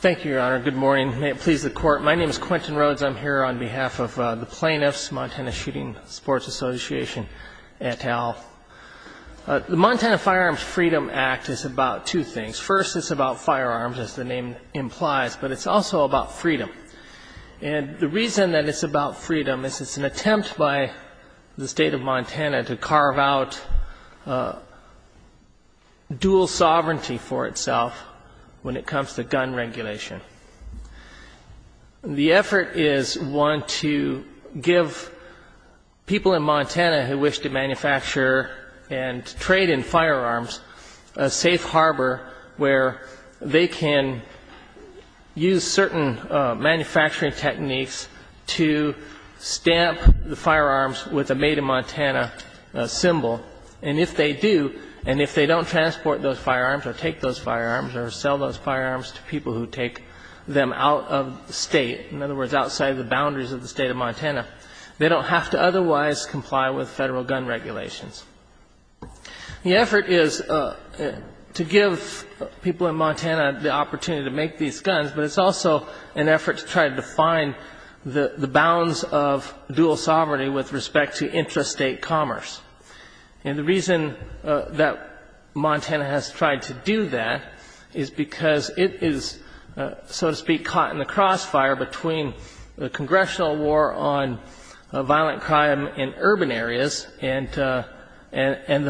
Thank you, Your Honor. Good morning. May it please the Court. My name is Quentin Rhodes. I'm here on behalf of the plaintiffs, Montana Shooting Sports Association et al. The Montana Firearms Freedom Act is about two things. First, it's about firearms, as the name implies, but it's also about freedom. And the reason that it's about freedom is it's an attempt by the state of Montana to carve out dual sovereignty for itself when it comes to gun regulation. The effort is one to give people in Montana who wish to manufacture and trade in firearms a safe harbor where they can use certain manufacturing techniques to stamp the firearms with a made-in-Montana symbol. And if they do, and if they don't transport those firearms or take those firearms or sell those firearms to people who take them out of the state, in other words, outside the boundaries of the state of Montana, they don't have to otherwise comply with federal gun regulations. The effort is to give people in Montana the opportunity to make these guns, but it's also an effort to try to define the bounds of dual sovereignty with respect to intrastate commerce. And the reason that Montana has tried to do that is because it is, so to speak, caught in the crossfire between the congressional war on violent crime in urban areas and the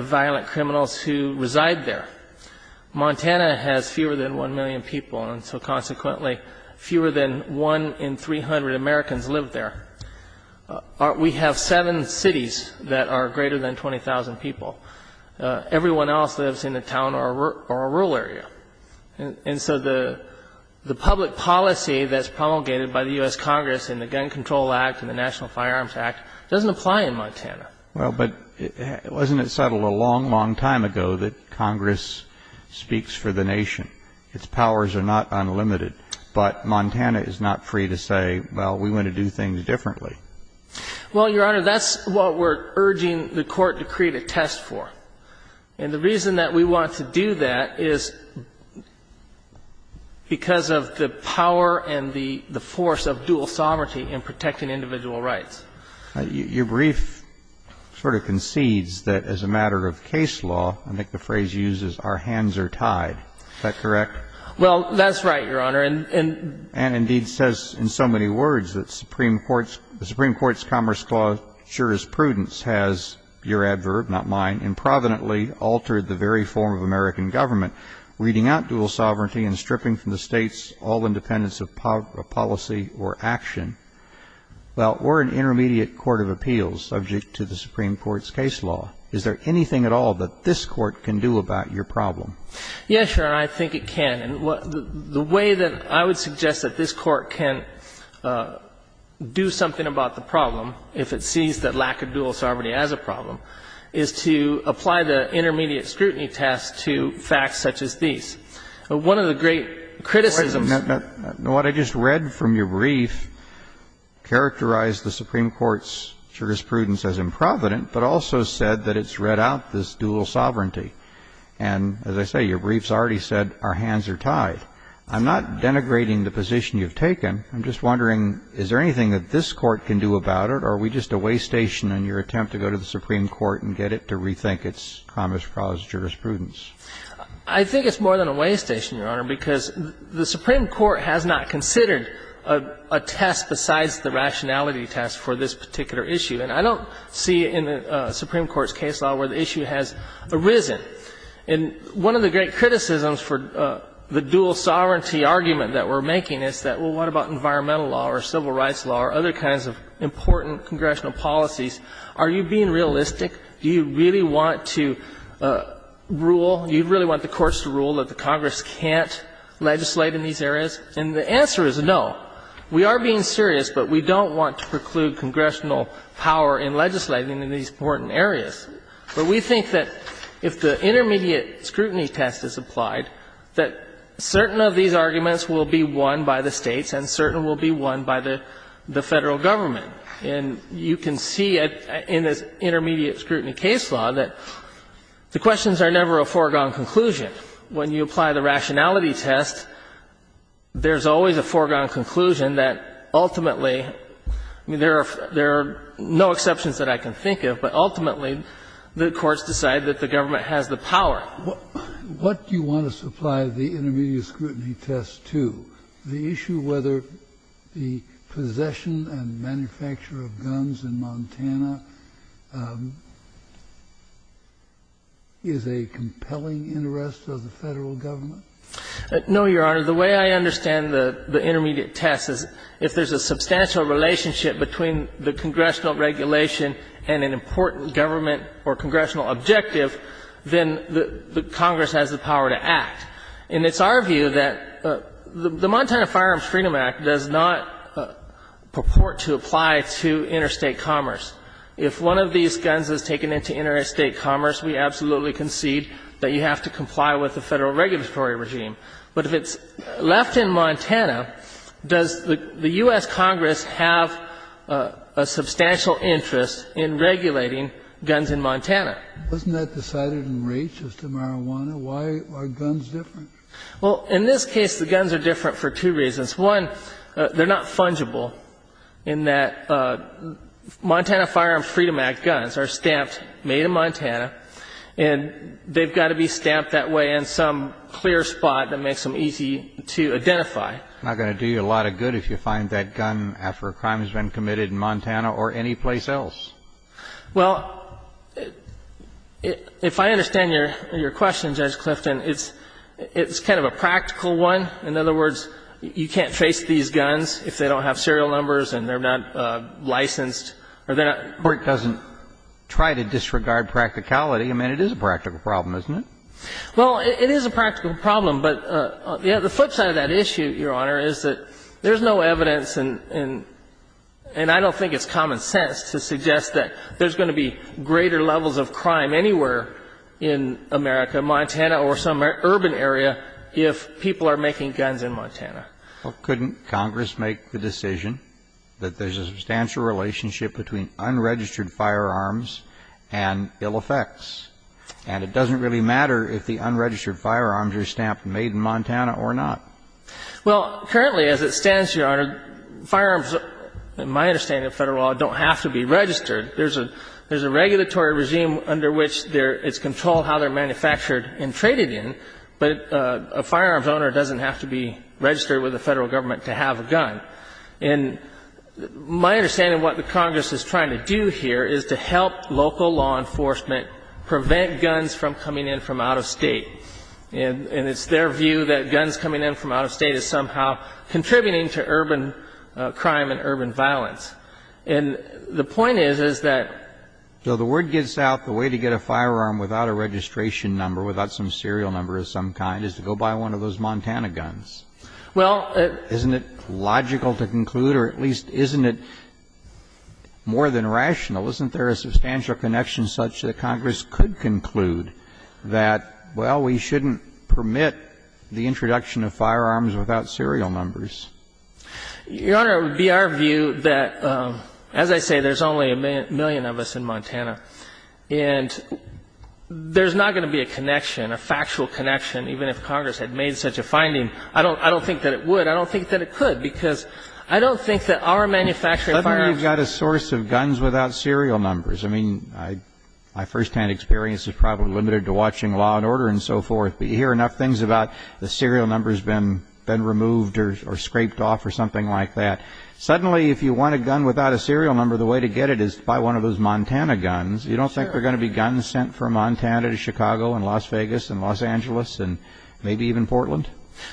violent criminals who reside there. Montana has fewer than 1 million people, and so consequently fewer than 1 in 300 Americans live there. We have seven cities that are greater than 20,000 people. Everyone else lives in a town or a rural area. And so the public policy that's promulgated by the U.S. Congress in the Gun Control Act and the National Firearms Act doesn't apply in Montana. Well, but wasn't it settled a long, long time ago that Congress speaks for the nation? Its powers are not unlimited. But Montana is not free to say, well, we want to do things differently. Well, Your Honor, that's what we're urging the Court to create a test for. And the reason that we want to do that is because of the power and the force of dual sovereignty in protecting individual rights. Your brief sort of concedes that as a matter of case law, I think the phrase used is, our hands are tied. Is that correct? Well, that's right, Your Honor. And indeed says in so many words that the Supreme Court's Commerce Clause sure as prudence has, your adverb, not mine, improvidently altered the very form of American government, reading out dual sovereignty and stripping from the states all independence of policy or action. Well, we're an intermediate court of appeals subject to the Supreme Court's improvident problem. Yes, Your Honor, I think it can. The way that I would suggest that this Court can do something about the problem, if it sees the lack of dual sovereignty as a problem, is to apply the intermediate scrutiny test to facts such as these. One of the great criticisms What I just read from your brief characterized the Supreme Court's jurisprudence as improvident, but also said that it's read out this dual sovereignty. And as I say, your brief's already said, our hands are tied. I'm not denigrating the position you've taken. I'm just wondering, is there anything that this Court can do about it, or are we just a way station in your attempt to go to the Supreme Court and get it to rethink its Commerce Clause jurisprudence? I think it's more than a way station, Your Honor, because the Supreme Court has not considered a test besides the rationality test for this particular issue. And I don't see in the Supreme Court's case law where the issue has arisen. And one of the great criticisms for the dual sovereignty argument that we're making is that, well, what about environmental law or civil rights law or other kinds of important congressional policies? Are you being realistic? Do you really want to rule? Do you really want the courts to rule that Congress can't legislate in these areas? And the answer is no. We are being serious, but we don't want to preclude congressional power in legislating in these important areas. But we think that if the intermediate scrutiny test is applied, that certain of these arguments will be won by the States and certain will be won by the Federal government. And you can see in this intermediate scrutiny case law that the questions are never a foregone conclusion. When you apply the rationality test, there's always a foregone conclusion that ultimately, I mean, there are no exceptions that I can think of, but ultimately, the courts decide that the government has the power. Kennedy. What do you want to supply the intermediate scrutiny test to? The issue whether the possession and manufacture of guns in Montana is a completely compelling interest of the Federal government? No, Your Honor. The way I understand the intermediate test is if there's a substantial relationship between the congressional regulation and an important government or congressional objective, then the Congress has the power to act. And it's our view that the Montana Firearms Freedom Act does not purport to apply to interstate commerce. If one of these guns is taken into interstate commerce, we absolutely concede that you have to comply with the Federal regulatory regime. But if it's left in Montana, does the U.S. Congress have a substantial interest in regulating guns in Montana? Wasn't that decided in Raich as to marijuana? Why are guns different? Well, in this case, the guns are different for two reasons. One, they're not fungible in that Montana Firearms Freedom Act guns are stamped, made in Montana, and they've got to be stamped that way in some clear spot that makes them easy to identify. It's not going to do you a lot of good if you find that gun after a crime has been committed in Montana or anyplace else. Well, if I understand your question, Judge Clifton, it's kind of a practical one. In other words, you can't face these guns if they don't have serial numbers and they're not licensed. Or it doesn't try to disregard practicality. I mean, it is a practical problem, isn't it? Well, it is a practical problem. But the flip side of that issue, Your Honor, is that there's no evidence and I don't think it's common sense to suggest that there's going to be greater levels of crime anywhere in America, Montana or some urban area, if people are making guns in Montana. Well, couldn't Congress make the decision that there's a substantial relationship between unregistered firearms and ill effects? And it doesn't really matter if the unregistered firearms are stamped made in Montana or not. Well, currently, as it stands, Your Honor, firearms, in my understanding of Federal law, don't have to be registered. There's a regulatory regime under which it's controlled how they're manufactured and traded in, but a firearms owner doesn't have to be registered with the Federal government to have a gun. And my understanding of what the Congress is trying to do here is to help local law enforcement prevent guns from coming in from out of State. And it's their view that guns coming in from out of State is somehow contributing to urban crime and urban violence. And the point is, is that the word gets out the way to get a firearm without a gun or without a registration number, without some serial number of some kind, is to go buy one of those Montana guns. Isn't it logical to conclude, or at least isn't it more than rational, isn't there a substantial connection such that Congress could conclude that, well, we shouldn't permit the introduction of firearms without serial numbers? Your Honor, it would be our view that, as I say, there's only a million of us in Montana. And there's not going to be a connection, a factual connection, even if Congress had made such a finding. I don't think that it would. I don't think that it could, because I don't think that our manufacturing firearms... Let's say you've got a source of guns without serial numbers. I mean, my first-hand experience is probably limited to watching Law and Order and so forth, but you hear enough things about the serial number has been removed or scraped off or something like that. Suddenly, if you want a gun without a serial number, the way to get it is to buy one of those Montana guns. You don't think there are going to be guns sent from Montana to Chicago and Las Vegas and Los Angeles and maybe even Portland?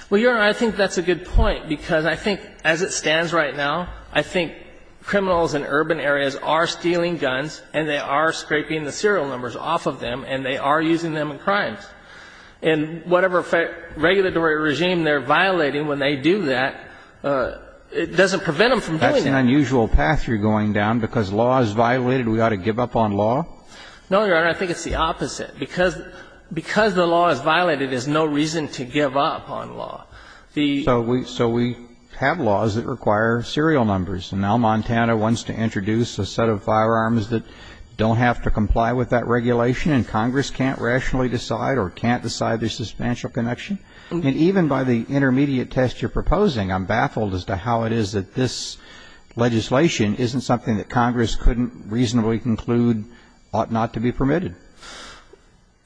Well, Your Honor, I think that's a good point, because I think, as it stands right now, I think criminals in urban areas are stealing guns and they are scraping the serial numbers off of them and they are using them in crimes. And whatever regulatory regime they're violating when they do that, it doesn't prevent them from doing that. That's an unusual path you're going down. Because law is violated, we ought to give up on law? No, Your Honor, I think it's the opposite. Because the law is violated, there's no reason to give up on law. So we have laws that require serial numbers, and now Montana wants to introduce a set of firearms that don't have to comply with that regulation and Congress can't rationally decide or can't decide their substantial connection? And even by the intermediate test you're proposing, I'm baffled as to how it is that this legislation isn't something that Congress couldn't reasonably conclude ought not to be permitted.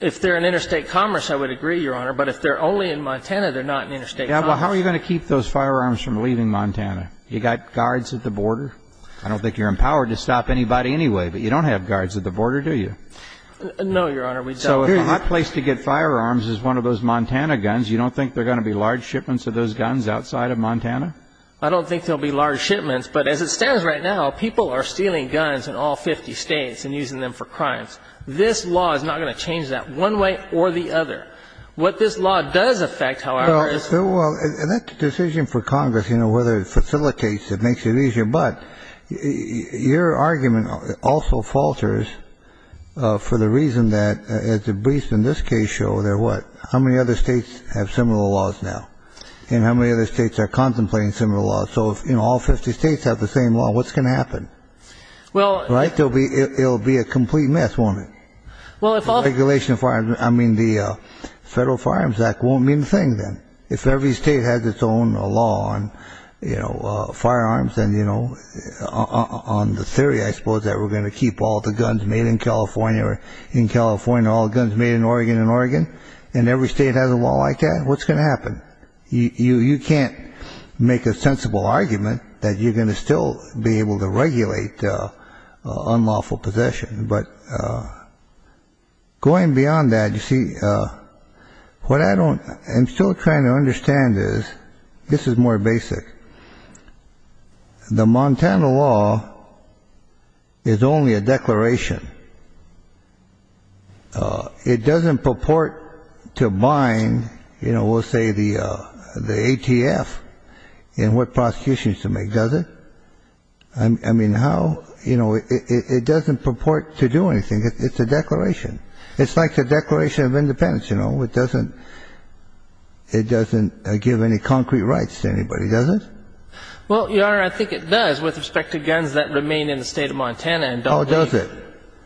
If they're in interstate commerce, I would agree, Your Honor, but if they're only in Montana, they're not in interstate commerce. Yeah, well, how are you going to keep those firearms from leaving Montana? You got guards at the border? I don't think you're empowered to stop anybody anyway, but you don't have guards at the border, do you? No, Your Honor, we don't. So if my place to get firearms is one of those Montana guns, you don't think there are going to be large shipments of those guns outside of Montana? I don't think there'll be large shipments, but as it stands right now, people are stealing guns in all 50 states and using them for crimes. This law is not going to change that one way or the other. What this law does affect, however, is... Well, that decision for Congress, you know, whether it facilitates it, makes it easier, but your argument also falters for the reason that, as the briefs in this case show, they're not going to change. How many other states have similar laws now? And how many other states are contemplating similar laws? So if, you know, all 50 states have the same law, what's going to happen? Right? It'll be a complete mess, won't it? The Federal Firearms Act won't mean a thing then. If every state has its own law on, you know, firearms, then, you know, on the theory, I suppose, that we're going to keep all the guns made in California or in California, and all the guns made in Oregon and Oregon, and every state has a law like that, what's going to happen? You can't make a sensible argument that you're going to still be able to regulate unlawful possession. But going beyond that, you see, what I don't... I'm still trying to understand is, this is more basic. The Montana law is only a declaration. It's not a law. It's a declaration. It's a declaration. It doesn't purport to bind, you know, we'll say the ATF in what prosecution is to make, does it? I mean, how? You know, it doesn't purport to do anything. It's a declaration. It's like the Declaration of Independence, you know. It doesn't give any concrete rights to anybody, does it? Well, Your Honor, I think it does with respect to guns that remain in the state of Montana and don't leave.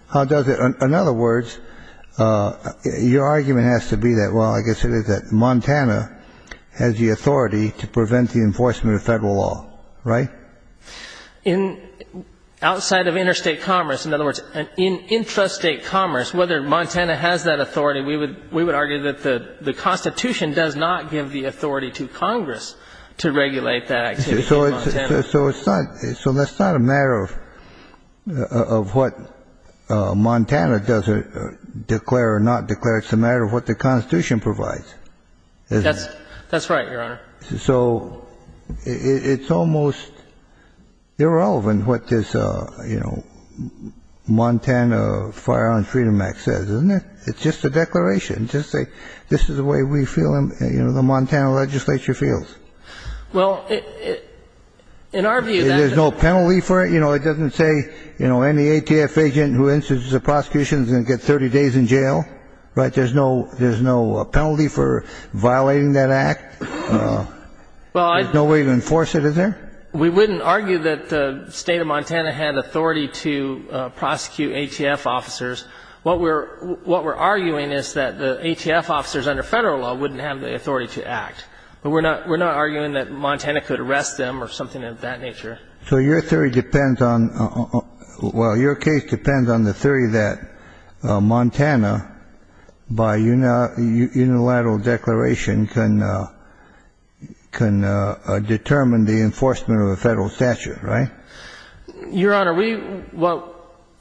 How does it? In other words, your argument has to be that, well, I guess it is that Montana has the authority to prevent the enforcement of federal law, right? Outside of interstate commerce, in other words, in intrastate commerce, whether Montana has that authority, we would argue that the Constitution does not give the authority to Congress to regulate that activity in Montana. So it's not a matter of what Montana does declare or not declare. It's a matter of what the Constitution provides, isn't it? That's right, Your Honor. So it's almost irrelevant what this, you know, Montana Firearms Freedom Act says, isn't it? It's just a declaration to say this is the way we feel and, you know, the Montana legislature feels. Well, in our view, that's... There's no penalty for it? You know, it doesn't say, you know, any ATF agent who institutes a prosecution is going to get 30 days in jail, right? There's no penalty for violating that act? There's no way to enforce it, is there? We wouldn't argue that the state of Montana had authority to prosecute ATF officers. What we're arguing is that the ATF officers under federal law wouldn't have the authority to prosecute ATF officers. We're not arguing that Montana could arrest them or something of that nature. So your theory depends on... Well, your case depends on the theory that Montana, by unilateral declaration, can determine the enforcement of a federal statute, right? Your Honor, we... Well,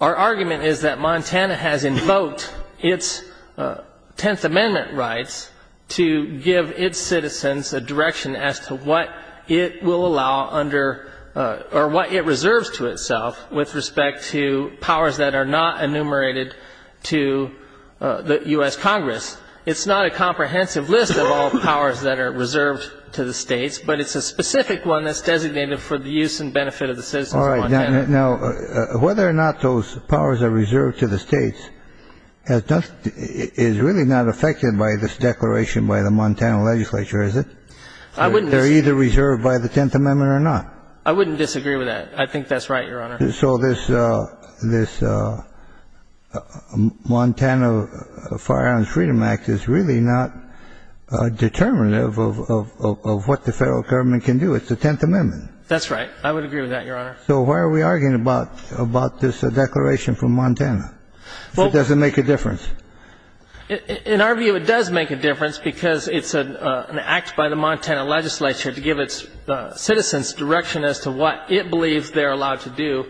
our argument is that Montana has invoked its Tenth Amendment rights to give its citizens a direction as to what it will allow under or what it reserves to itself with respect to powers that are not enumerated to the U.S. Congress. It's not a comprehensive list of all the powers that are reserved to the states, but it's a specific one that's designated for the use and benefit of the citizens of Montana. All right. Now, whether or not those powers are reserved to the states is really not affected by this declaration by the Montana legislature, is it? I wouldn't... They're either reserved by the Tenth Amendment or not. I wouldn't disagree with that. I think that's right, Your Honor. So this Montana Firearms Freedom Act is really not determinative of what the federal government can do. It's the Tenth Amendment. That's right. I would agree with that, Your Honor. So why are we arguing about this declaration from Montana? It doesn't make a difference. In our view, it does make a difference because it's an act by the Montana legislature to give its citizens direction as to what it believes they're allowed to do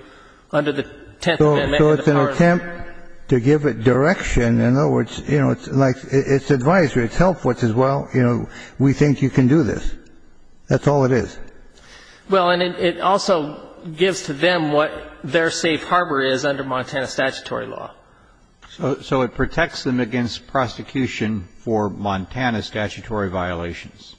under the Tenth Amendment and the powers... So it's an attempt to give it direction. In other words, you know, it's like its advisory, its help, which is, well, you know, we think you can do this. That's all it is. Well, and it also gives to them what their safe harbor is under Montana statutory law. So it protects them against prosecution for Montana statutory violations.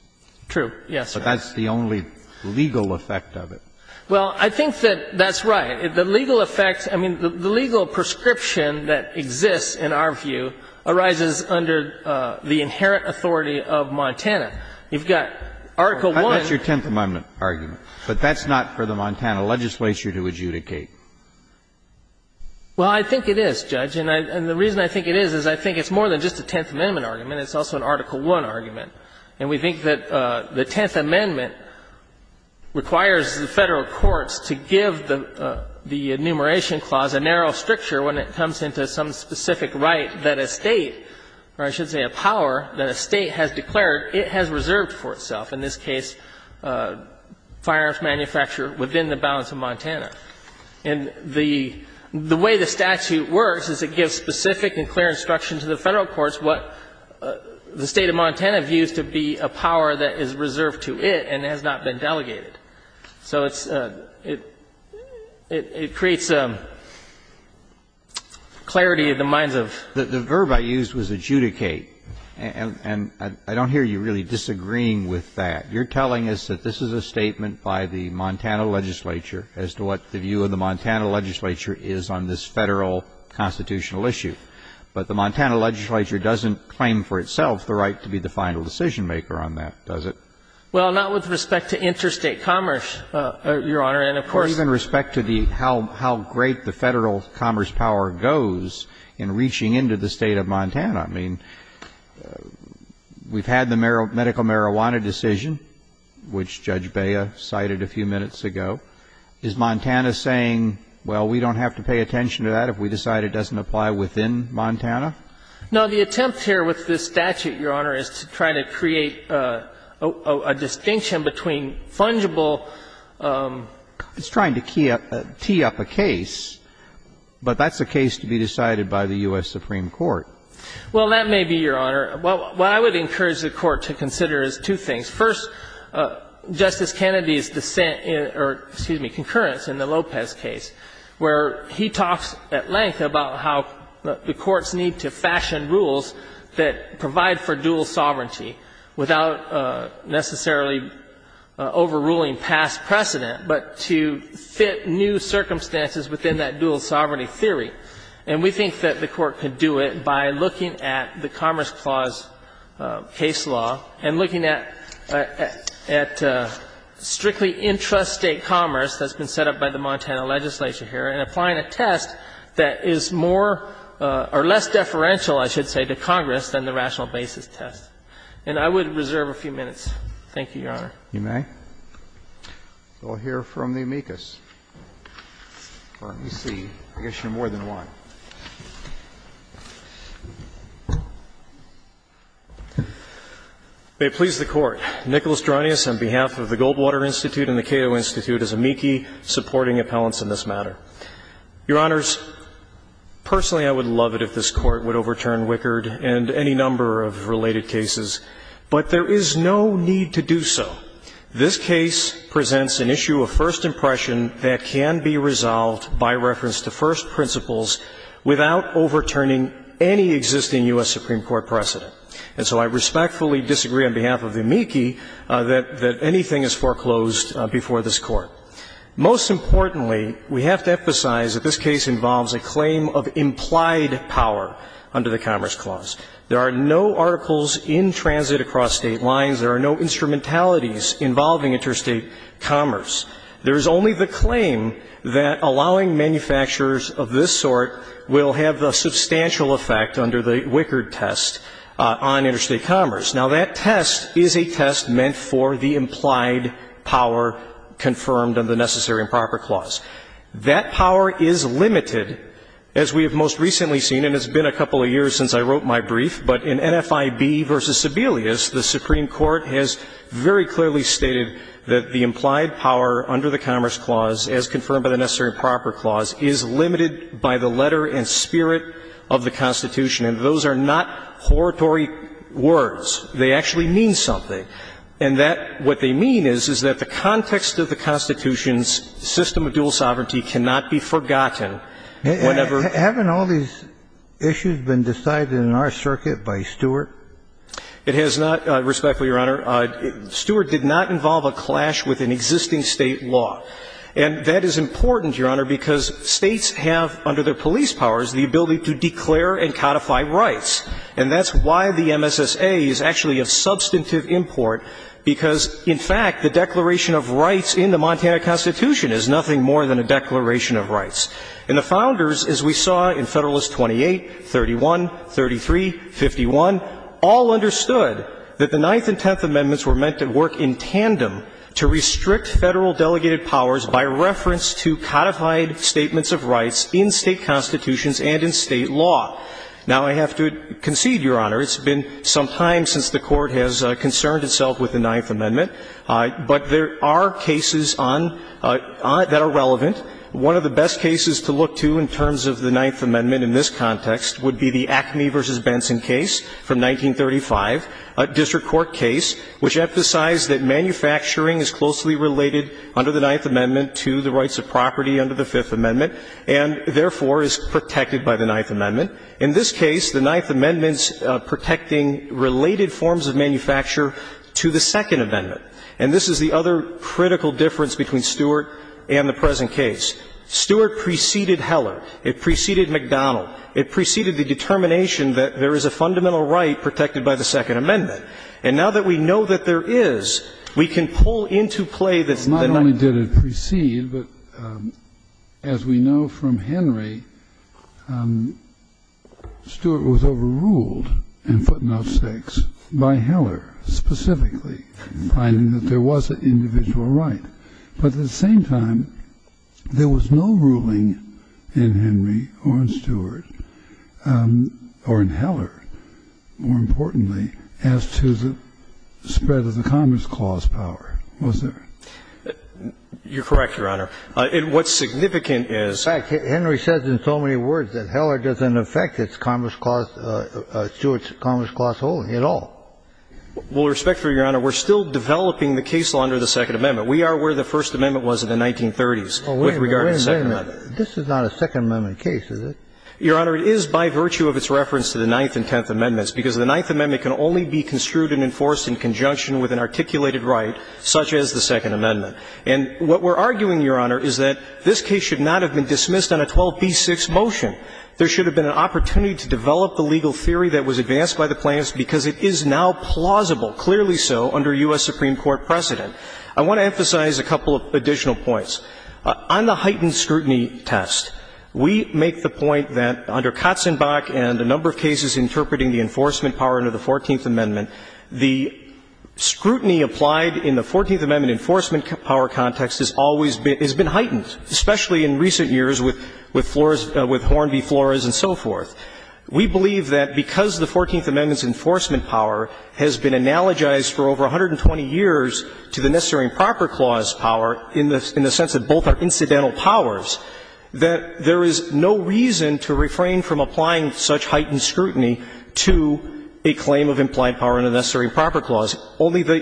True. Yes. But that's the only legal effect of it. Well, I think that that's right. The legal effects, I mean, the legal prescription that exists, in our view, arises under the inherent authority of Montana. You've got Article I... That's your Tenth Amendment argument. But that's not for the Montana legislature to adjudicate. Well, I think it is, Judge. And the reason I think it is, is I think it's more than just a Tenth Amendment argument. It's also an Article I argument. And we think that the Tenth Amendment requires the Federal courts to give the enumeration clause a narrow stricture when it comes into some specific right that a State, or I should say a power, that a State has declared, it has reserved for itself. In this case, firearms manufacturer within the bounds of Montana. And the way the statute works is it gives specific and clear instruction to the Federal courts what the State of Montana views to be a power that is reserved to it and has not been delegated. So it's a — it creates a clarity in the minds of... The verb I used was adjudicate. And I don't hear you really disagreeing with that. You're telling us that this is a statement by the Montana legislature as to what the view of the Montana legislature is on this Federal constitutional issue. But the Montana legislature doesn't claim for itself the right to be the final decision-maker on that, does it? Well, not with respect to interstate commerce, Your Honor. And of course... Or even respect to the — how great the Federal commerce power goes in reaching into the State of Montana. I mean, we've had the medical marijuana decision, which Judge Bea cited a few minutes ago. Is Montana saying, well, we don't have to pay attention to that if we decide it doesn't apply within Montana? No. The attempt here with this statute, Your Honor, is to try to create a distinction between fungible... It's trying to key up — tee up a case, but that's a case to be decided by the U.S. Supreme Court. Well, that may be, Your Honor. What I would encourage the Court to consider is two things. First, Justice Kennedy's dissent — or, excuse me, concurrence in the Lopez case, where he talks at length about how the courts need to fashion rules that provide for dual sovereignty without necessarily overruling past precedent, but to fit new circumstances within that dual sovereignty theory. And we think that the Court could do it by looking at the Commerce Clause case law and looking at — at — at strictly intrastate commerce that's been set up by the Montana legislature here, and applying a test that is more — or less deferential, I should say, to Congress than the rational basis test. And I would reserve a few minutes. Thank you, Your Honor. You may. We'll hear from the amicus. Let me see. I guess you have more than one. May it please the Court. Nicholas Dranius, on behalf of the Goldwater Institute and the Cato Institute, is amici supporting appellants in this matter. Your Honors, personally, I would love it if this Court would overturn Wickard and any number of related cases, but there is no need to do so. This case presents an issue of first impression that can be resolved by reference to first principles without overturning any existing U.S. Supreme Court precedent. And so I respectfully disagree on behalf of amici that — that anything is foreclosed before this Court. Most importantly, we have to emphasize that this case involves a claim of implied power under the Commerce Clause. There are no articles in transit across State lines. There are no instrumentalities involving interstate commerce. There is only the claim that allowing manufacturers of this sort will have the substantial effect under the Wickard test on interstate commerce. Now, that test is a test meant for the implied power confirmed under the Necessary and Proper Clause. That power is limited, as we have most recently seen — and it's been a couple of years since I wrote my brief — but in NFIB v. Sebelius, the Supreme Court has very clearly stated that the implied power under the Commerce Clause, as confirmed by the Necessary and Proper Clause, is limited by the letter and spirit of the Constitution. And those are not horatory words. They actually mean something. And that — what they mean is, is that the context of the Constitution's system of dual sovereignty cannot be forgotten whenever — Haven't all these issues been decided in our circuit by Stewart? It has not, respectfully, Your Honor. Stewart did not involve a clash with an existing State law. And that is important, Your Honor, because States have, under their police powers, the ability to declare and codify rights. And that's why the MSSA is actually a substantive import, because, in fact, the Declaration of Rights in the Montana Constitution is nothing more than a declaration of rights. And the Founders, as we saw in Federalist 28, 31, 33, 51, all understood that the Ninth and Tenth Amendments were meant to work in tandem to restrict Federal delegated powers by reference to codified statements of rights in State constitutions and in State law. Now, I have to concede, Your Honor, it's been some time since the Court has concerned itself with the Ninth Amendment. But there are cases on — that are relevant. One of the best cases to look to in terms of the Ninth Amendment in this context would be the Acme v. Benson case from 1935, a district court case which emphasized that manufacturing is closely related under the Ninth Amendment to the rights of property under the Fifth Amendment and, therefore, is protected by the Ninth Amendment. In this case, the Ninth Amendment's protecting related forms of manufacture to the Second Amendment. In this particular case, Stewart preceded Heller. It preceded McDonnell. It preceded the determination that there is a fundamental right protected by the Second Amendment. And now that we know that there is, we can pull into play the Ninth — Not only did it precede, but as we know from Henry, Stewart was overruled and footnote 6 by Heller specifically, finding that there was an individual right. But at the same time, there was no ruling in Henry or in Stewart or in Heller, more importantly, as to the spread of the Commerce Clause power, was there? You're correct, Your Honor. And what's significant is — In fact, Henry says in so many words that Heller doesn't affect its Commerce Clause — Stewart's Commerce Clause holding at all. With respect to it, Your Honor, we're still developing the case law under the Second Amendment. We are where the First Amendment was in the 1930s with regard to the Second Amendment. Wait a minute. This is not a Second Amendment case, is it? Your Honor, it is by virtue of its reference to the Ninth and Tenth Amendments, because the Ninth Amendment can only be construed and enforced in conjunction with an articulated right such as the Second Amendment. And what we're arguing, Your Honor, is that this case should not have been dismissed on a 12b-6 motion. There should have been an opportunity to develop the legal theory that was advanced by the plaintiffs because it is now plausible, clearly so, under U.S. Supreme Court precedent. I want to emphasize a couple of additional points. On the heightened scrutiny test, we make the point that under Katzenbach and a number of cases interpreting the enforcement power under the Fourteenth Amendment, the scrutiny applied in the Fourteenth Amendment enforcement power context has always been — has been heightened, especially in recent years with Flores — with Horn v. Flores and so forth. We believe that because the Fourteenth Amendment's enforcement power has been analogized for over 120 years to the Necessary and Proper Clause power, in the sense that both are incidental powers, that there is no reason to refrain from applying such heightened scrutiny to a claim of implied power under the Necessary and Proper Clause. Only the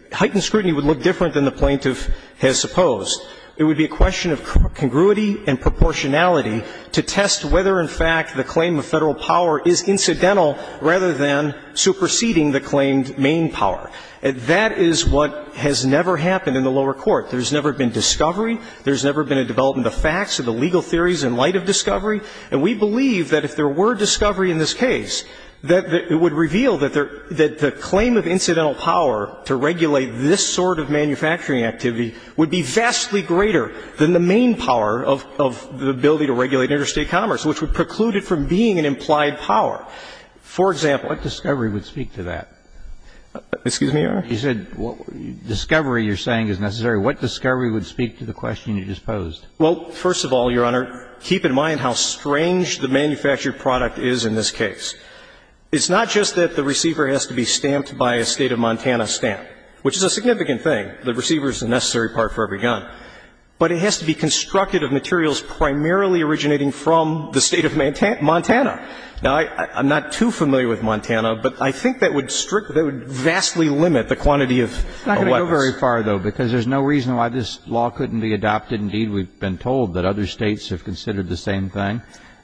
— the heightened scrutiny would look different than the plaintiff has supposed. It would be a question of congruity and proportionality to test whether, in fact, the claim of Federal power is incidental rather than superseding the claimed main power. And that is what has never happened in the lower court. There's never been discovery. There's never been a development of facts or the legal theories in light of discovery. And we believe that if there were discovery in this case, that it would reveal that there — that the claim of incidental power to regulate this sort of manufacturing activity would be vastly greater than the main power of — of the ability to regulate interstate commerce, which would preclude it from being an implied power. For example — But what discovery would speak to that? Excuse me, Your Honor? You said what — discovery, you're saying, is necessary. What discovery would speak to the question you just posed? Well, first of all, Your Honor, keep in mind how strange the manufactured product is in this case. It's not just that the receiver has to be stamped by a state of Montana stamp, which is a significant thing. The receiver is a necessary part for every gun. But it has to be constructed of materials primarily originating from the state of Montana. Now, I'm not too familiar with Montana, but I think that would strictly — that would vastly limit the quantity of weapons. I'm not going to go very far, though, because there's no reason why this law couldn't be adopted. Indeed, we've been told that other states have considered the same thing.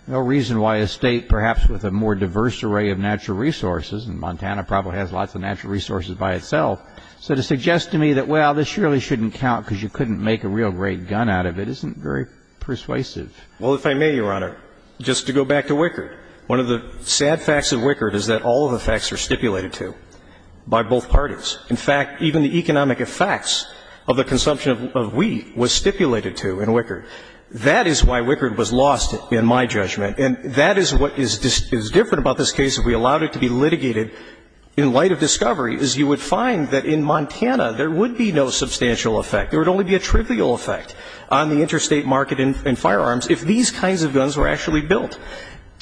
No reason why a state, perhaps with a more diverse array of natural resources — and Montana probably has lots of natural resources by itself — so to suggest to me that, well, this really shouldn't count because you couldn't make a real great gun out of it isn't very persuasive. Well, if I may, Your Honor, just to go back to Wickard, one of the sad facts of Wickard is that all of the facts are stipulated to by both parties. In fact, even the economic effects of the consumption of wheat was stipulated to in Wickard. That is why Wickard was lost, in my judgment. And that is what is different about this case if we allowed it to be litigated in light of discovery, is you would find that in Montana there would be no substantial effect. There would only be a trivial effect on the interstate market in firearms if these kinds of guns were actually built.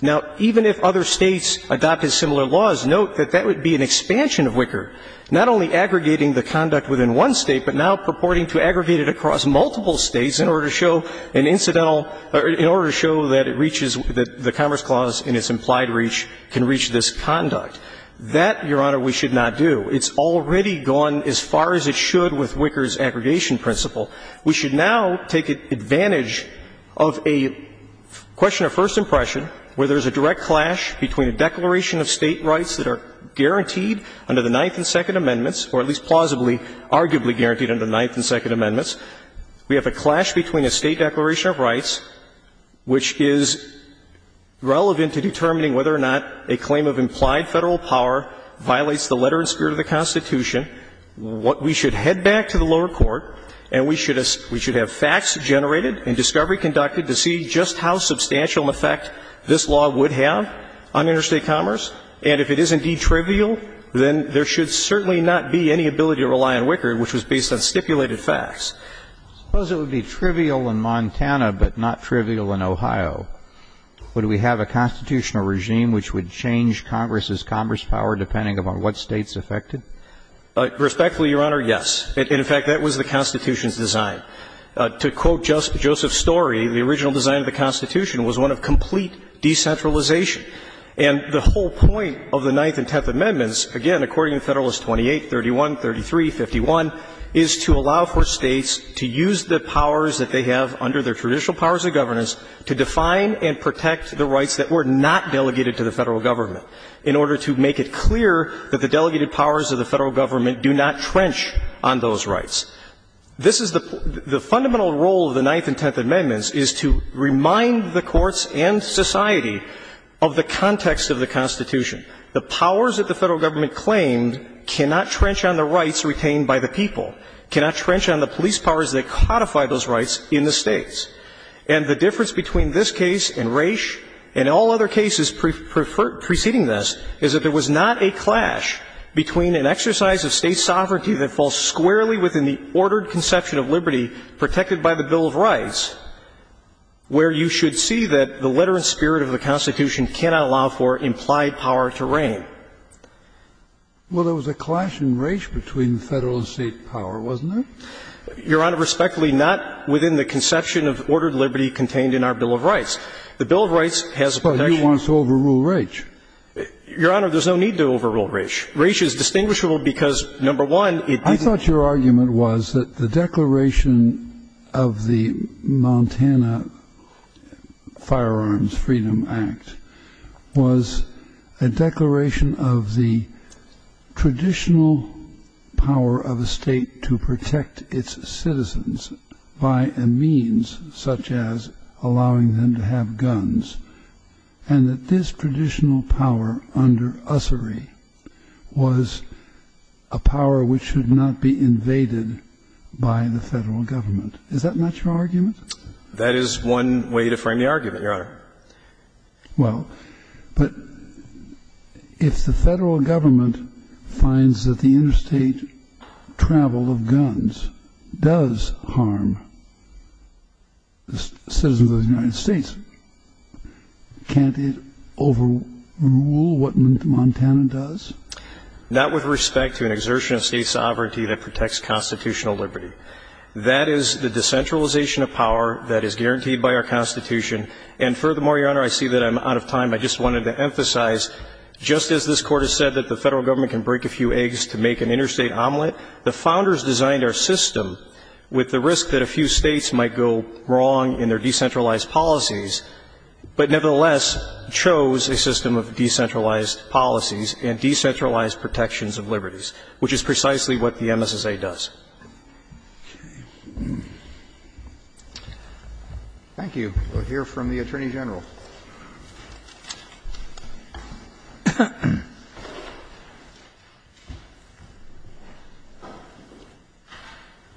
Now, even if other states adopted similar laws, note that that would be an expansion of Wickard, not only aggregating the conduct within one state, but now purporting to aggregate it across multiple states in order to show an incidental — in order to show that it reaches — that the Commerce Clause in its implied reach can reach this conduct. That, Your Honor, we should not do. It's already gone as far as it should with Wickard's aggregation principle. We should now take advantage of a question of first impression where there's a direct clash between a declaration of state rights that are guaranteed under the Ninth and Second Amendments, or at least plausibly arguably guaranteed under the Ninth and Second Amendments. We have a clash between a state declaration of rights which is relevant to determining whether or not a claim of implied Federal power violates the letter and spirit of the Constitution. We should head back to the lower court and we should have facts generated and discovery conducted to see just how substantial an effect this law would have on interstate commerce. And if it is indeed trivial, then there should certainly not be any ability to rely on Wickard, which was based on stipulated facts. Suppose it would be trivial in Montana but not trivial in Ohio. Would we have a constitutional regime which would change Congress's commerce power depending upon what states affected? Respectfully, Your Honor, yes. In fact, that was the Constitution's design. To quote Joseph Story, the original design of the Constitution was one of complete decentralization. And the whole point of the Ninth and Tenth Amendments, again, according to Federalist 28, 31, 33, 51, is to allow for states to use the powers that they have under their traditional powers of governance to define and protect the rights that were not delegated to the Federal Government in order to make it clear that the delegated powers of the Federal Government do not trench on those rights. This is the – the fundamental role of the Ninth and Tenth Amendments is to remind the courts and society of the context of the Constitution. The powers that the Federal Government claimed cannot trench on the rights retained by the people, cannot trench on the police powers that codify those rights in the states. And the difference between this case and Raich and all other cases preceding this is that there was not a clash between an exercise of state sovereignty that falls squarely within the ordered conception of liberty protected by the Bill of Rights, where you should see that the letter and spirit of the Constitution cannot allow for implied power to reign. Well, there was a clash in Raich between Federal and state power, wasn't there? Your Honor, respectfully, not within the conception of ordered liberty contained in our Bill of Rights. The Bill of Rights has a protection on the rights of the people. Well, you want to overrule Raich. Your Honor, there's no need to overrule Raich. Raich is distinguishable because, number one, it – I thought your argument was that the declaration of the Montana Firearms Freedom Act was a declaration of the traditional power of a State to protect its citizens by a means such as allowing them to have guns, and that this traditional power under ussery was a power which should not be invaded by the Federal Government. Is that not your argument? That is one way to frame the argument, Your Honor. Well, but if the Federal Government finds that the interstate travel of guns does harm the citizens of the United States, can't it overrule what Montana does? Not with respect to an exertion of State sovereignty that protects constitutional liberty. That is the decentralization of power that is guaranteed by our Constitution. And furthermore, Your Honor, I see that I'm out of time. I just wanted to emphasize, just as this Court has said that the Federal Government can break a few eggs to make an interstate omelet, the Founders designed our system with the risk that a few States might go wrong in their decentralized policies, but nevertheless chose a system of decentralized policies and decentralized protections of liberties, which is precisely what the MSSA does. Thank you. We'll hear from the Attorney General. Thank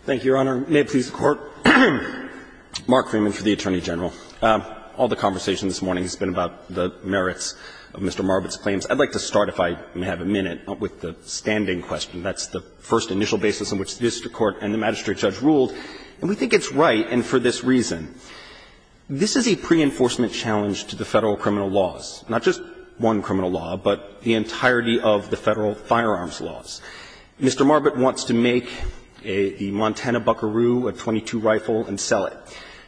you, Your Honor. May it please the Court. Mark Freeman for the Attorney General. All the conversation this morning has been about the merits of Mr. Marbitt's claims. I'd like to start, if I may have a minute, with the standing question. That's the first initial basis on which the district court and the magistrate judge ruled, and we think it's right, and for this reason. This is a pre-enforcement challenge to the Federal criminal laws, not just one criminal law, but the entirety of the Federal firearms laws. Mr. Marbitt wants to make the Montana Buckaroo a .22 rifle and sell it.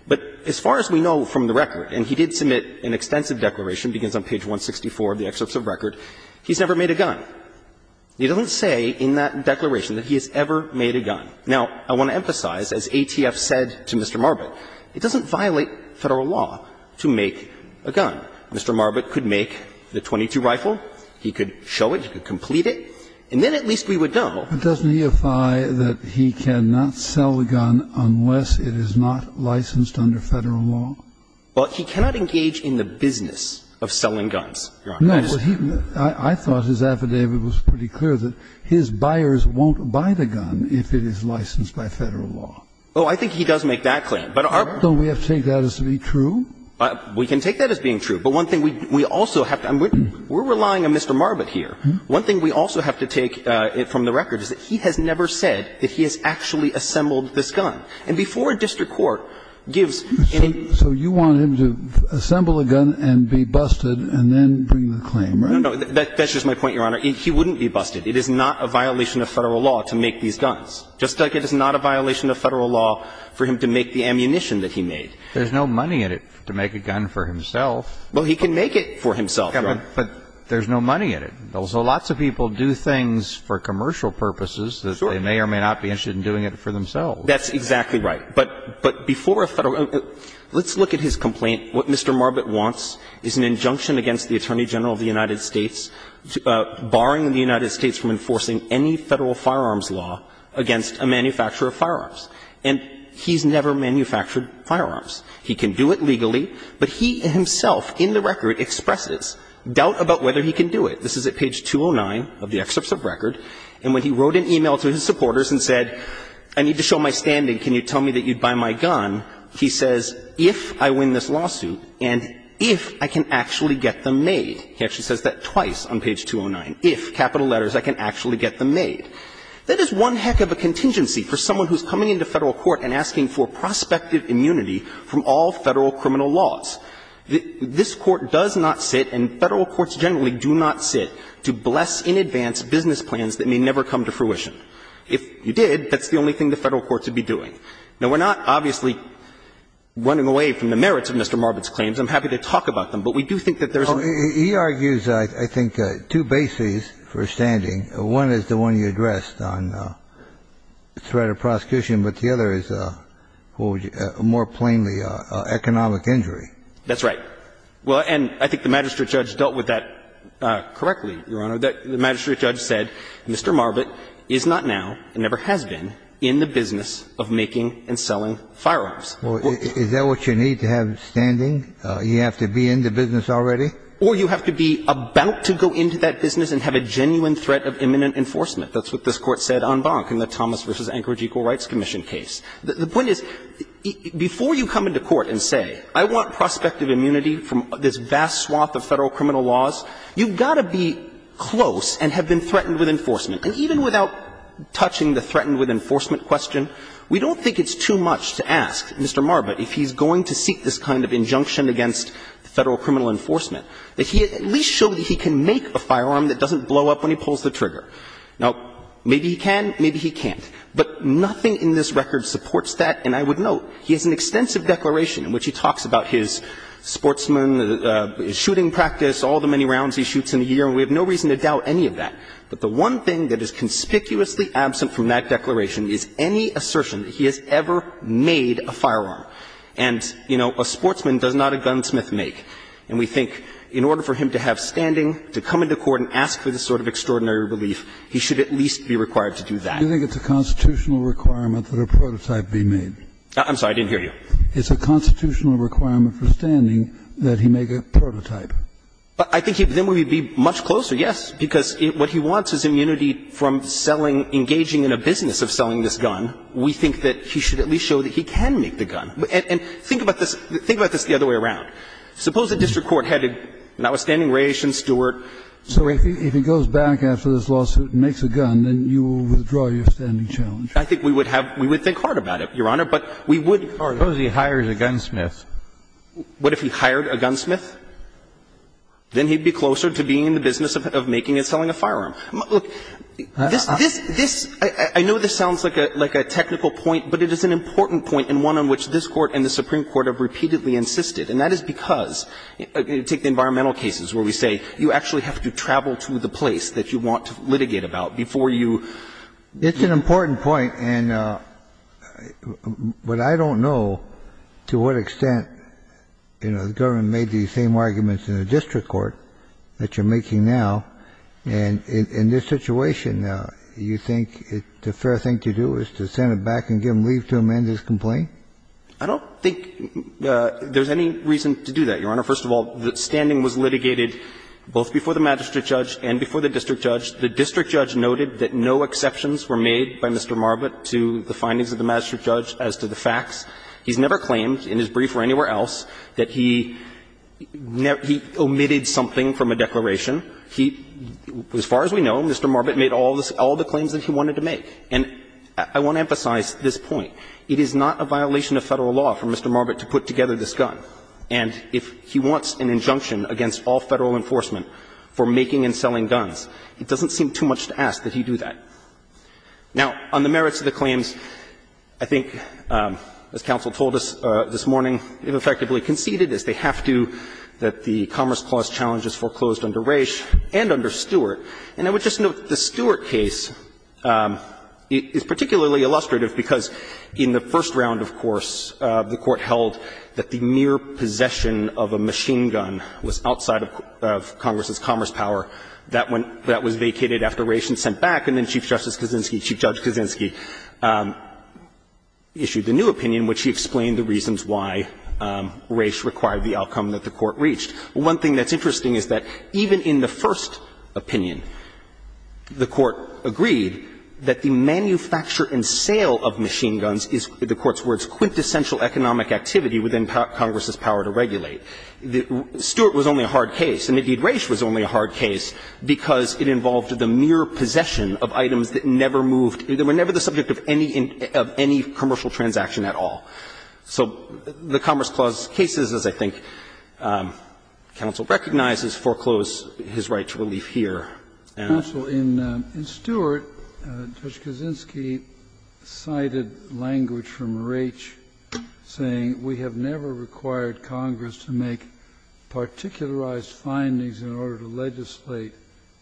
But as far as we know from the record, and he did submit an extensive declaration, begins on page 164 of the excerpts of the record, he's never made a gun. He doesn't say in that declaration that he has ever made a gun. Now, I want to emphasize, as ATF said to Mr. Marbitt, it doesn't violate Federal law to make a gun. Mr. Marbitt could make the .22 rifle, he could show it, he could complete it, and then at least we would know. But doesn't he affi that he cannot sell a gun unless it is not licensed under Federal law? Well, he cannot engage in the business of selling guns, Your Honor. I thought his affidavit was pretty clear that his buyers won't buy the gun if it is licensed by Federal law. Oh, I think he does make that claim. But our point is that we have to take that as to be true. We can take that as being true, but one thing we also have to do, we're relying on Mr. Marbitt here. One thing we also have to take from the record is that he has never said that he has actually assembled this gun. And before a district court gives any ---- So you want him to assemble a gun and be busted and then bring the claim, right? No, no. That's just my point, Your Honor. He wouldn't be busted. It is not a violation of Federal law to make these guns. Just like it is not a violation of Federal law for him to make the ammunition that he made. There's no money in it to make a gun for himself. Well, he can make it for himself, Your Honor. But there's no money in it. So lots of people do things for commercial purposes that they may or may not be interested in doing it for themselves. That's exactly right. But before a Federal ---- let's look at his complaint. What Mr. Marbitt wants is an injunction against the Attorney General of the United States barring the United States from enforcing any Federal firearms law against a manufacturer of firearms. And he's never manufactured firearms. He can do it legally, but he himself in the record expresses doubt about whether he can do it. This is at page 209 of the excerpts of record. And when he wrote an e-mail to his supporters and said, I need to show my standing, can you tell me that you'd buy my gun, he says, if I win this lawsuit and if I can actually get them made, he actually says that twice on page 209, if, capital letters, I can actually get them made. That is one heck of a contingency for someone who's coming into Federal court and asking for prospective immunity from all Federal criminal laws. This Court does not sit, and Federal courts generally do not sit, to bless in advance business plans that may never come to fruition. If you did, that's the only thing the Federal courts would be doing. Now, we're not obviously running away from the merits of Mr. Marbitt's claims. I'm happy to talk about them, but we do think that there's a ---- Kennedy, he argues, I think, two bases for standing. One is the one you addressed on threat of prosecution, but the other is, what would you ---- more plainly, economic injury. That's right. Well, and I think the magistrate judge dealt with that correctly, Your Honor. The magistrate judge said, Mr. Marbitt is not now and never has been in the business of making and selling firearms. Well, is that what you need to have standing? You have to be in the business already? Or you have to be about to go into that business and have a genuine threat of imminent enforcement. That's what this Court said on Bonk in the Thomas v. Anchorage Equal Rights Commission case. The point is, before you come into court and say, I want prospective immunity from this vast swath of Federal criminal laws, you've got to be close and have been threatened with enforcement. And even without touching the threatened with enforcement question, we don't think it's too much to ask Mr. Marbitt if he's going to seek this kind of injunction against Federal criminal enforcement, that he at least show that he can make a firearm that doesn't blow up when he pulls the trigger. Now, maybe he can, maybe he can't. But nothing in this record supports that. And I would note, he has an extensive declaration in which he talks about his sportsman, his shooting practice, all the many rounds he shoots in a year, and we have no reason to doubt any of that. But the one thing that is conspicuously absent from that declaration is any assertion that he has ever made a firearm. And, you know, a sportsman does not a gunsmith make. And we think in order for him to have standing, to come into court and ask for this sort of extraordinary relief, he should at least be required to do that. Kennedy, do you think it's a constitutional requirement that a prototype be made? I'm sorry, I didn't hear you. It's a constitutional requirement for standing that he make a prototype. I think then we would be much closer, yes, because what he wants is immunity from selling, engaging in a business of selling this gun. We think that he should at least show that he can make the gun. And think about this, think about this the other way around. Suppose the district court had an outstanding ration steward. So if he goes back after this lawsuit and makes a gun, then you will withdraw your standing challenge. I think we would have, we would think hard about it, Your Honor, but we would. Suppose he hires a gunsmith. What if he hired a gunsmith? Then he'd be closer to being in the business of making and selling a firearm. Look, this, this, this, I know this sounds like a technical point, but it is an important point and one on which this Court and the Supreme Court have repeatedly insisted. And that is because, take the environmental cases where we say you actually have to travel to the place that you want to litigate about before you. It's an important point, and what I don't know to what extent, you know, the government made these same arguments in the district court that you're making now. And in this situation, you think the fair thing to do is to send it back and give him leave to amend his complaint? I don't think there's any reason to do that, Your Honor. First of all, the standing was litigated both before the magistrate judge and before the district judge. The district judge noted that no exceptions were made by Mr. Marbut to the findings of the magistrate judge as to the facts. He's never claimed in his brief or anywhere else that he omitted something from a declaration. He, as far as we know, Mr. Marbut made all the claims that he wanted to make. And I want to emphasize this point. It is not a violation of Federal law for Mr. Marbut to put together this gun. And if he wants an injunction against all Federal enforcement for making and selling guns, it doesn't seem too much to ask that he do that. Now, on the merits of the claims, I think, as counsel told us this morning, if effectively conceded, as they have to, that the Commerce Clause challenge is foreclosed under Raich and under Stewart. And I would just note that the Stewart case is particularly illustrative because in the first round, of course, the Court held that the mere possession of a machine gun was outside of Congress's commerce power. That was vacated after Raich was sent back, and then Chief Justice Kaczynski, Chief Judge Kaczynski, issued the new opinion, which he explained the reasons why Raich required the outcome that the Court reached. One thing that's interesting is that even in the first opinion, the Court agreed that the manufacture and sale of machine guns is, the Court's words, quintessential economic activity within Congress's power to regulate. Stewart was only a hard case, and indeed, Raich was only a hard case, because it involved the mere possession of items that never moved, that were never the subject of any commercial transaction at all. So the Commerce Clause cases, as I think counsel recognizes, foreclose his right to relief here. And I'll say that. Kennedy, in Stewart, Judge Kaczynski cited language from Raich saying, We have never required Congress to make particularized findings in order to legislate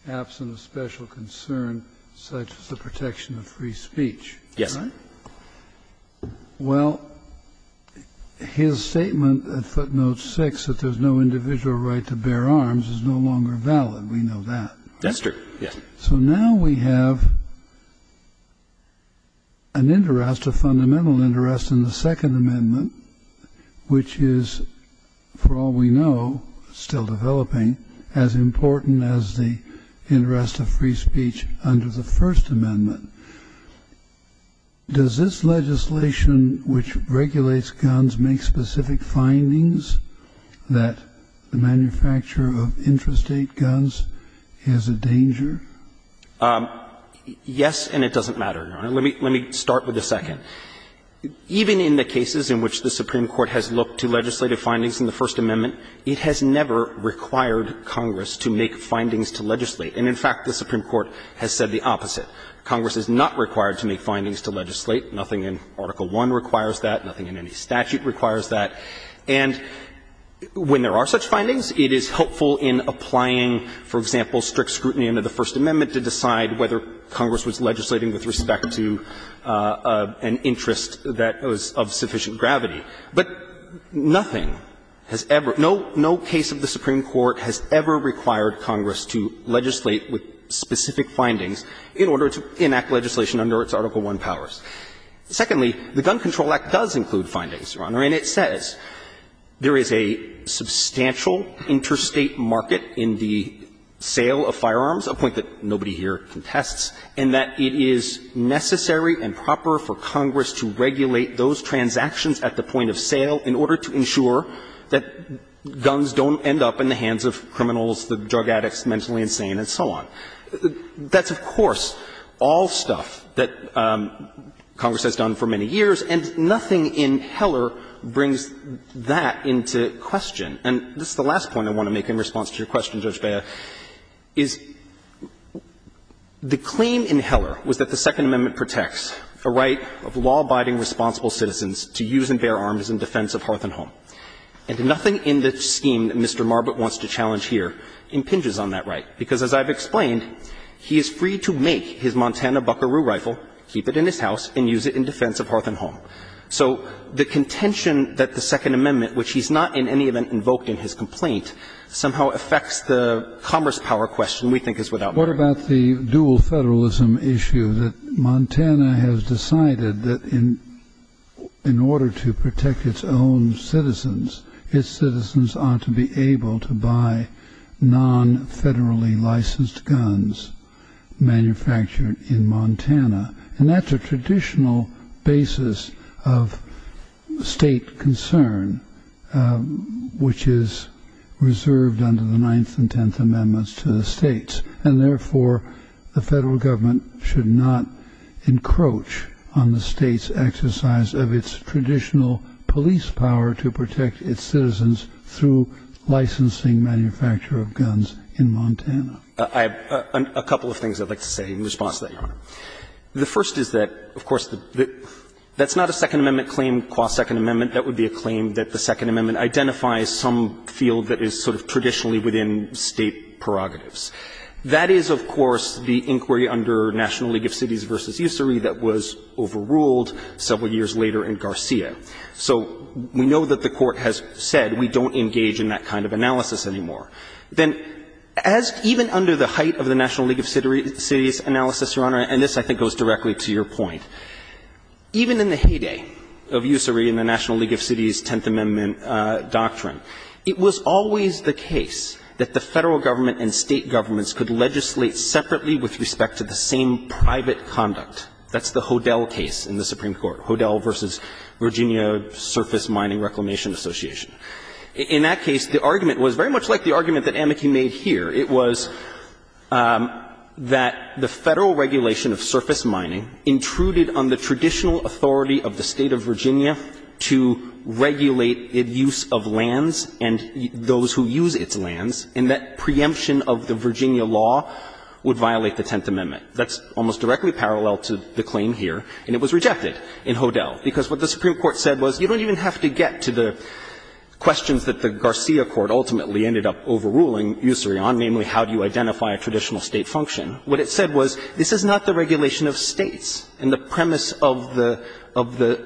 absent of special concern such as the protection of free speech. Yes, sir. Well, his statement at footnote 6, that there's no individual right to bear arms, is no longer valid. We know that. Yes, sir. Yes. So now we have an interest, a fundamental interest in the Second Amendment, which is, for all we know, still developing, as important as the interest of free speech under the First Amendment. Does this legislation, which regulates guns, make specific findings that the manufacture of intrastate guns is a danger? Yes, and it doesn't matter, Your Honor. Let me start with the second. Even in the cases in which the Supreme Court has looked to legislative findings in the First Amendment, it has never required Congress to make findings to legislate. And in fact, the Supreme Court has said the opposite. Congress is not required to make findings to legislate. Nothing in Article I requires that. Nothing in any statute requires that. And when there are such findings, it is helpful in applying, for example, strict scrutiny under the First Amendment to decide whether Congress was legislating with respect to an interest that was of sufficient gravity. But nothing has ever no no case of the Supreme Court has ever required Congress to legislate with specific findings in order to enact legislation under its Article I powers. Secondly, the Gun Control Act does include findings, Your Honor, and it says there is a substantial interstate market in the sale of firearms, a point that nobody here contests, and that it is necessary and proper for Congress to regulate those transactions at the point of sale in order to ensure that guns don't end up in the hands of people who are intentionally insane and so on. That's, of course, all stuff that Congress has done for many years, and nothing in Heller brings that into question. And this is the last point I want to make in response to your question, Judge Beyer, is the claim in Heller was that the Second Amendment protects a right of law-abiding responsible citizens to use and bear arms in defense of hearth and home. And nothing in the scheme that Mr. Marbut wants to challenge here impinges on that right, because as I've explained, he is free to make his Montana buckaroo rifle, keep it in his house, and use it in defense of hearth and home. So the contention that the Second Amendment, which he's not in any event invoked in his complaint, somehow affects the commerce power question we think is without merit. Kennedy. What about the dual federalism issue that Montana has decided that in order to protect its own citizens, its citizens ought to be able to buy non-federally licensed guns manufactured in Montana? And that's a traditional basis of state concern, which is reserved under the Ninth and Tenth Amendments to the states. And therefore, the federal government should not encroach on the state's exercise of its traditional police power to protect its citizens through licensing manufacture of guns in Montana. I have a couple of things I'd like to say in response to that, Your Honor. The first is that, of course, that's not a Second Amendment claim qua Second Amendment. That would be a claim that the Second Amendment identifies some field that is sort of traditionally within state prerogatives. That is, of course, the inquiry under National League of Cities v. Usury that was overruled several years later in Garcia. So we know that the Court has said we don't engage in that kind of analysis anymore. Then, as even under the height of the National League of Cities analysis, Your Honor, and this, I think, goes directly to your point, even in the heyday of Usury and the National League of Cities' Tenth Amendment doctrine, it was always the case that the federal government and state governments could legislate separately with respect to the same private conduct. That's the Hodel case in the Supreme Court, Hodel v. Virginia Surface Mining Reclamation Association. In that case, the argument was very much like the argument that Amaki made here. It was that the Federal regulation of surface mining intruded on the traditional authority of the State of Virginia to regulate its use of lands and those who use its lands, and that preemption of the Virginia law would violate the Tenth Amendment. That's almost directly parallel to the claim here, and it was rejected in Hodel, because what the Supreme Court said was you don't even have to get to the questions that the Garcia court ultimately ended up overruling Usury on, namely, how do you identify a traditional State function. What it said was this is not the regulation of States, and the premise of the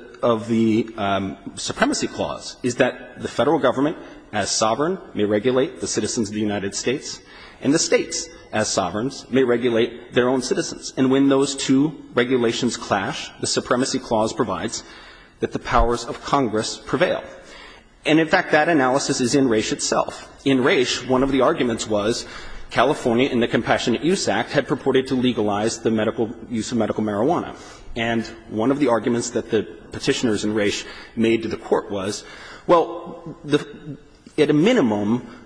– of the Supremacy Clause is that the Federal government, as sovereign, may regulate the citizens of the United States, and the States, as sovereigns, may regulate their own citizens. And when those two regulations clash, the Supremacy Clause provides that the powers of Congress prevail. And, in fact, that analysis is in Raich itself. In Raich, one of the arguments was California in the Compassionate Use Act had purported to legalize the medical – use of medical marijuana. And one of the arguments that the Petitioners in Raich made to the Court was, well, the – at a minimum,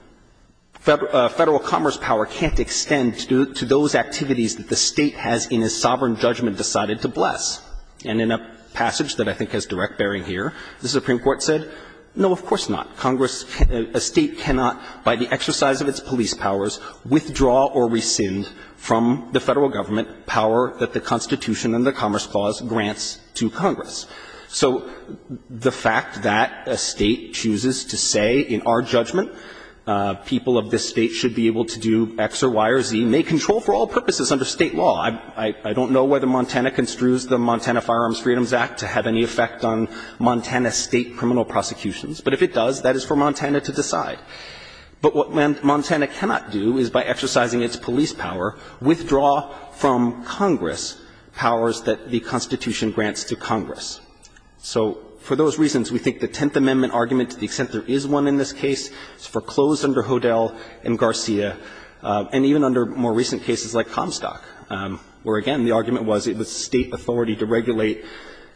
Federal commerce power can't extend to those activities that the State has, in its sovereign judgment, decided to bless. And in a passage that I think has direct bearing here, the Supreme Court said, no, of course not. Congress – a State cannot, by the exercise of its police powers, withdraw or rescind from the Federal government power that the Constitution and the Commerce Clause grants to Congress. So the fact that a State chooses to say, in our judgment, people of this State should be able to do X or Y or Z may control for all purposes under State law. I don't know whether Montana construes the Montana Firearms Freedoms Act to have any effect on Montana State criminal prosecutions. But if it does, that is for Montana to decide. But what Montana cannot do is, by exercising its police power, withdraw from Congress powers that the Constitution grants to Congress. So for those reasons, we think the Tenth Amendment argument, to the extent there is one in this case, is foreclosed under Hodel and Garcia, and even under more recent cases like Comstock, where, again, the argument was it was State authority to regulate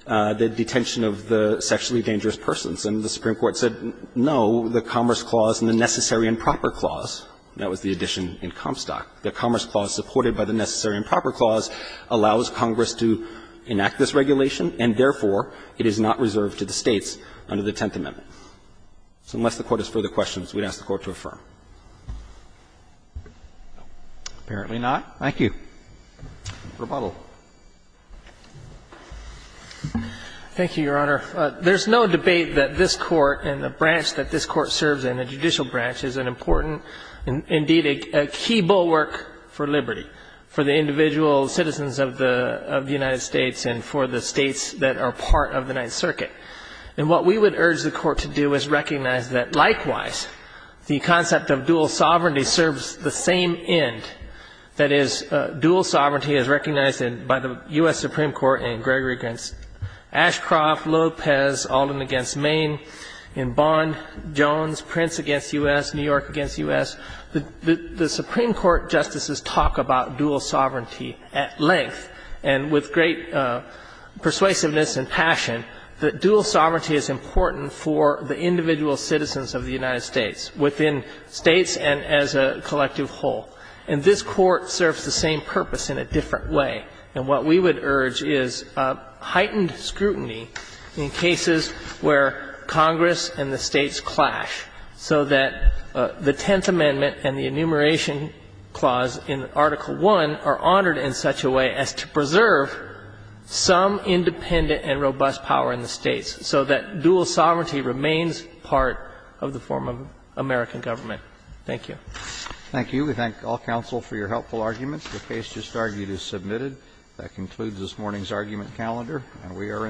the detention of the sexually dangerous persons. And the Supreme Court said, no, the Commerce Clause and the Necessary and Proper Clause – that was the addition in Comstock – the Commerce Clause supported by the Necessary and Proper Clause allows Congress to enact this regulation, and therefore, it is not reserved to the States under the Tenth Amendment. So unless the Court has further questions, we'd ask the Court to affirm. Roberts. Thank you. Thank you, Your Honor. There's no debate that this Court and the branch that this Court serves in, the judicial branch, is an important – indeed, a key bulwark for liberty, for the individual citizens of the United States and for the states that are part of the Ninth Circuit. And what we would urge the Court to do is recognize that, likewise, the concept of dual sovereignty serves the same end. That is, dual sovereignty is recognized by the U.S. Supreme Court in Gregory against U.S., New York against U.S. The Supreme Court justices talk about dual sovereignty at length, and with great persuasiveness and passion, that dual sovereignty is important for the individual citizens of the United States within States and as a collective whole. And this Court serves the same purpose in a different way. And what we would urge is a heightened scrutiny in cases where Congress and the States clash, so that the Tenth Amendment and the Enumeration Clause in Article I are honored in such a way as to preserve some independent and robust power in the States, so that dual sovereignty remains part of the form of American government. Thank you. Thank you. We thank all counsel for your helpful arguments. The case just argued is submitted. That concludes this morning's argument calendar, and we are adjourned.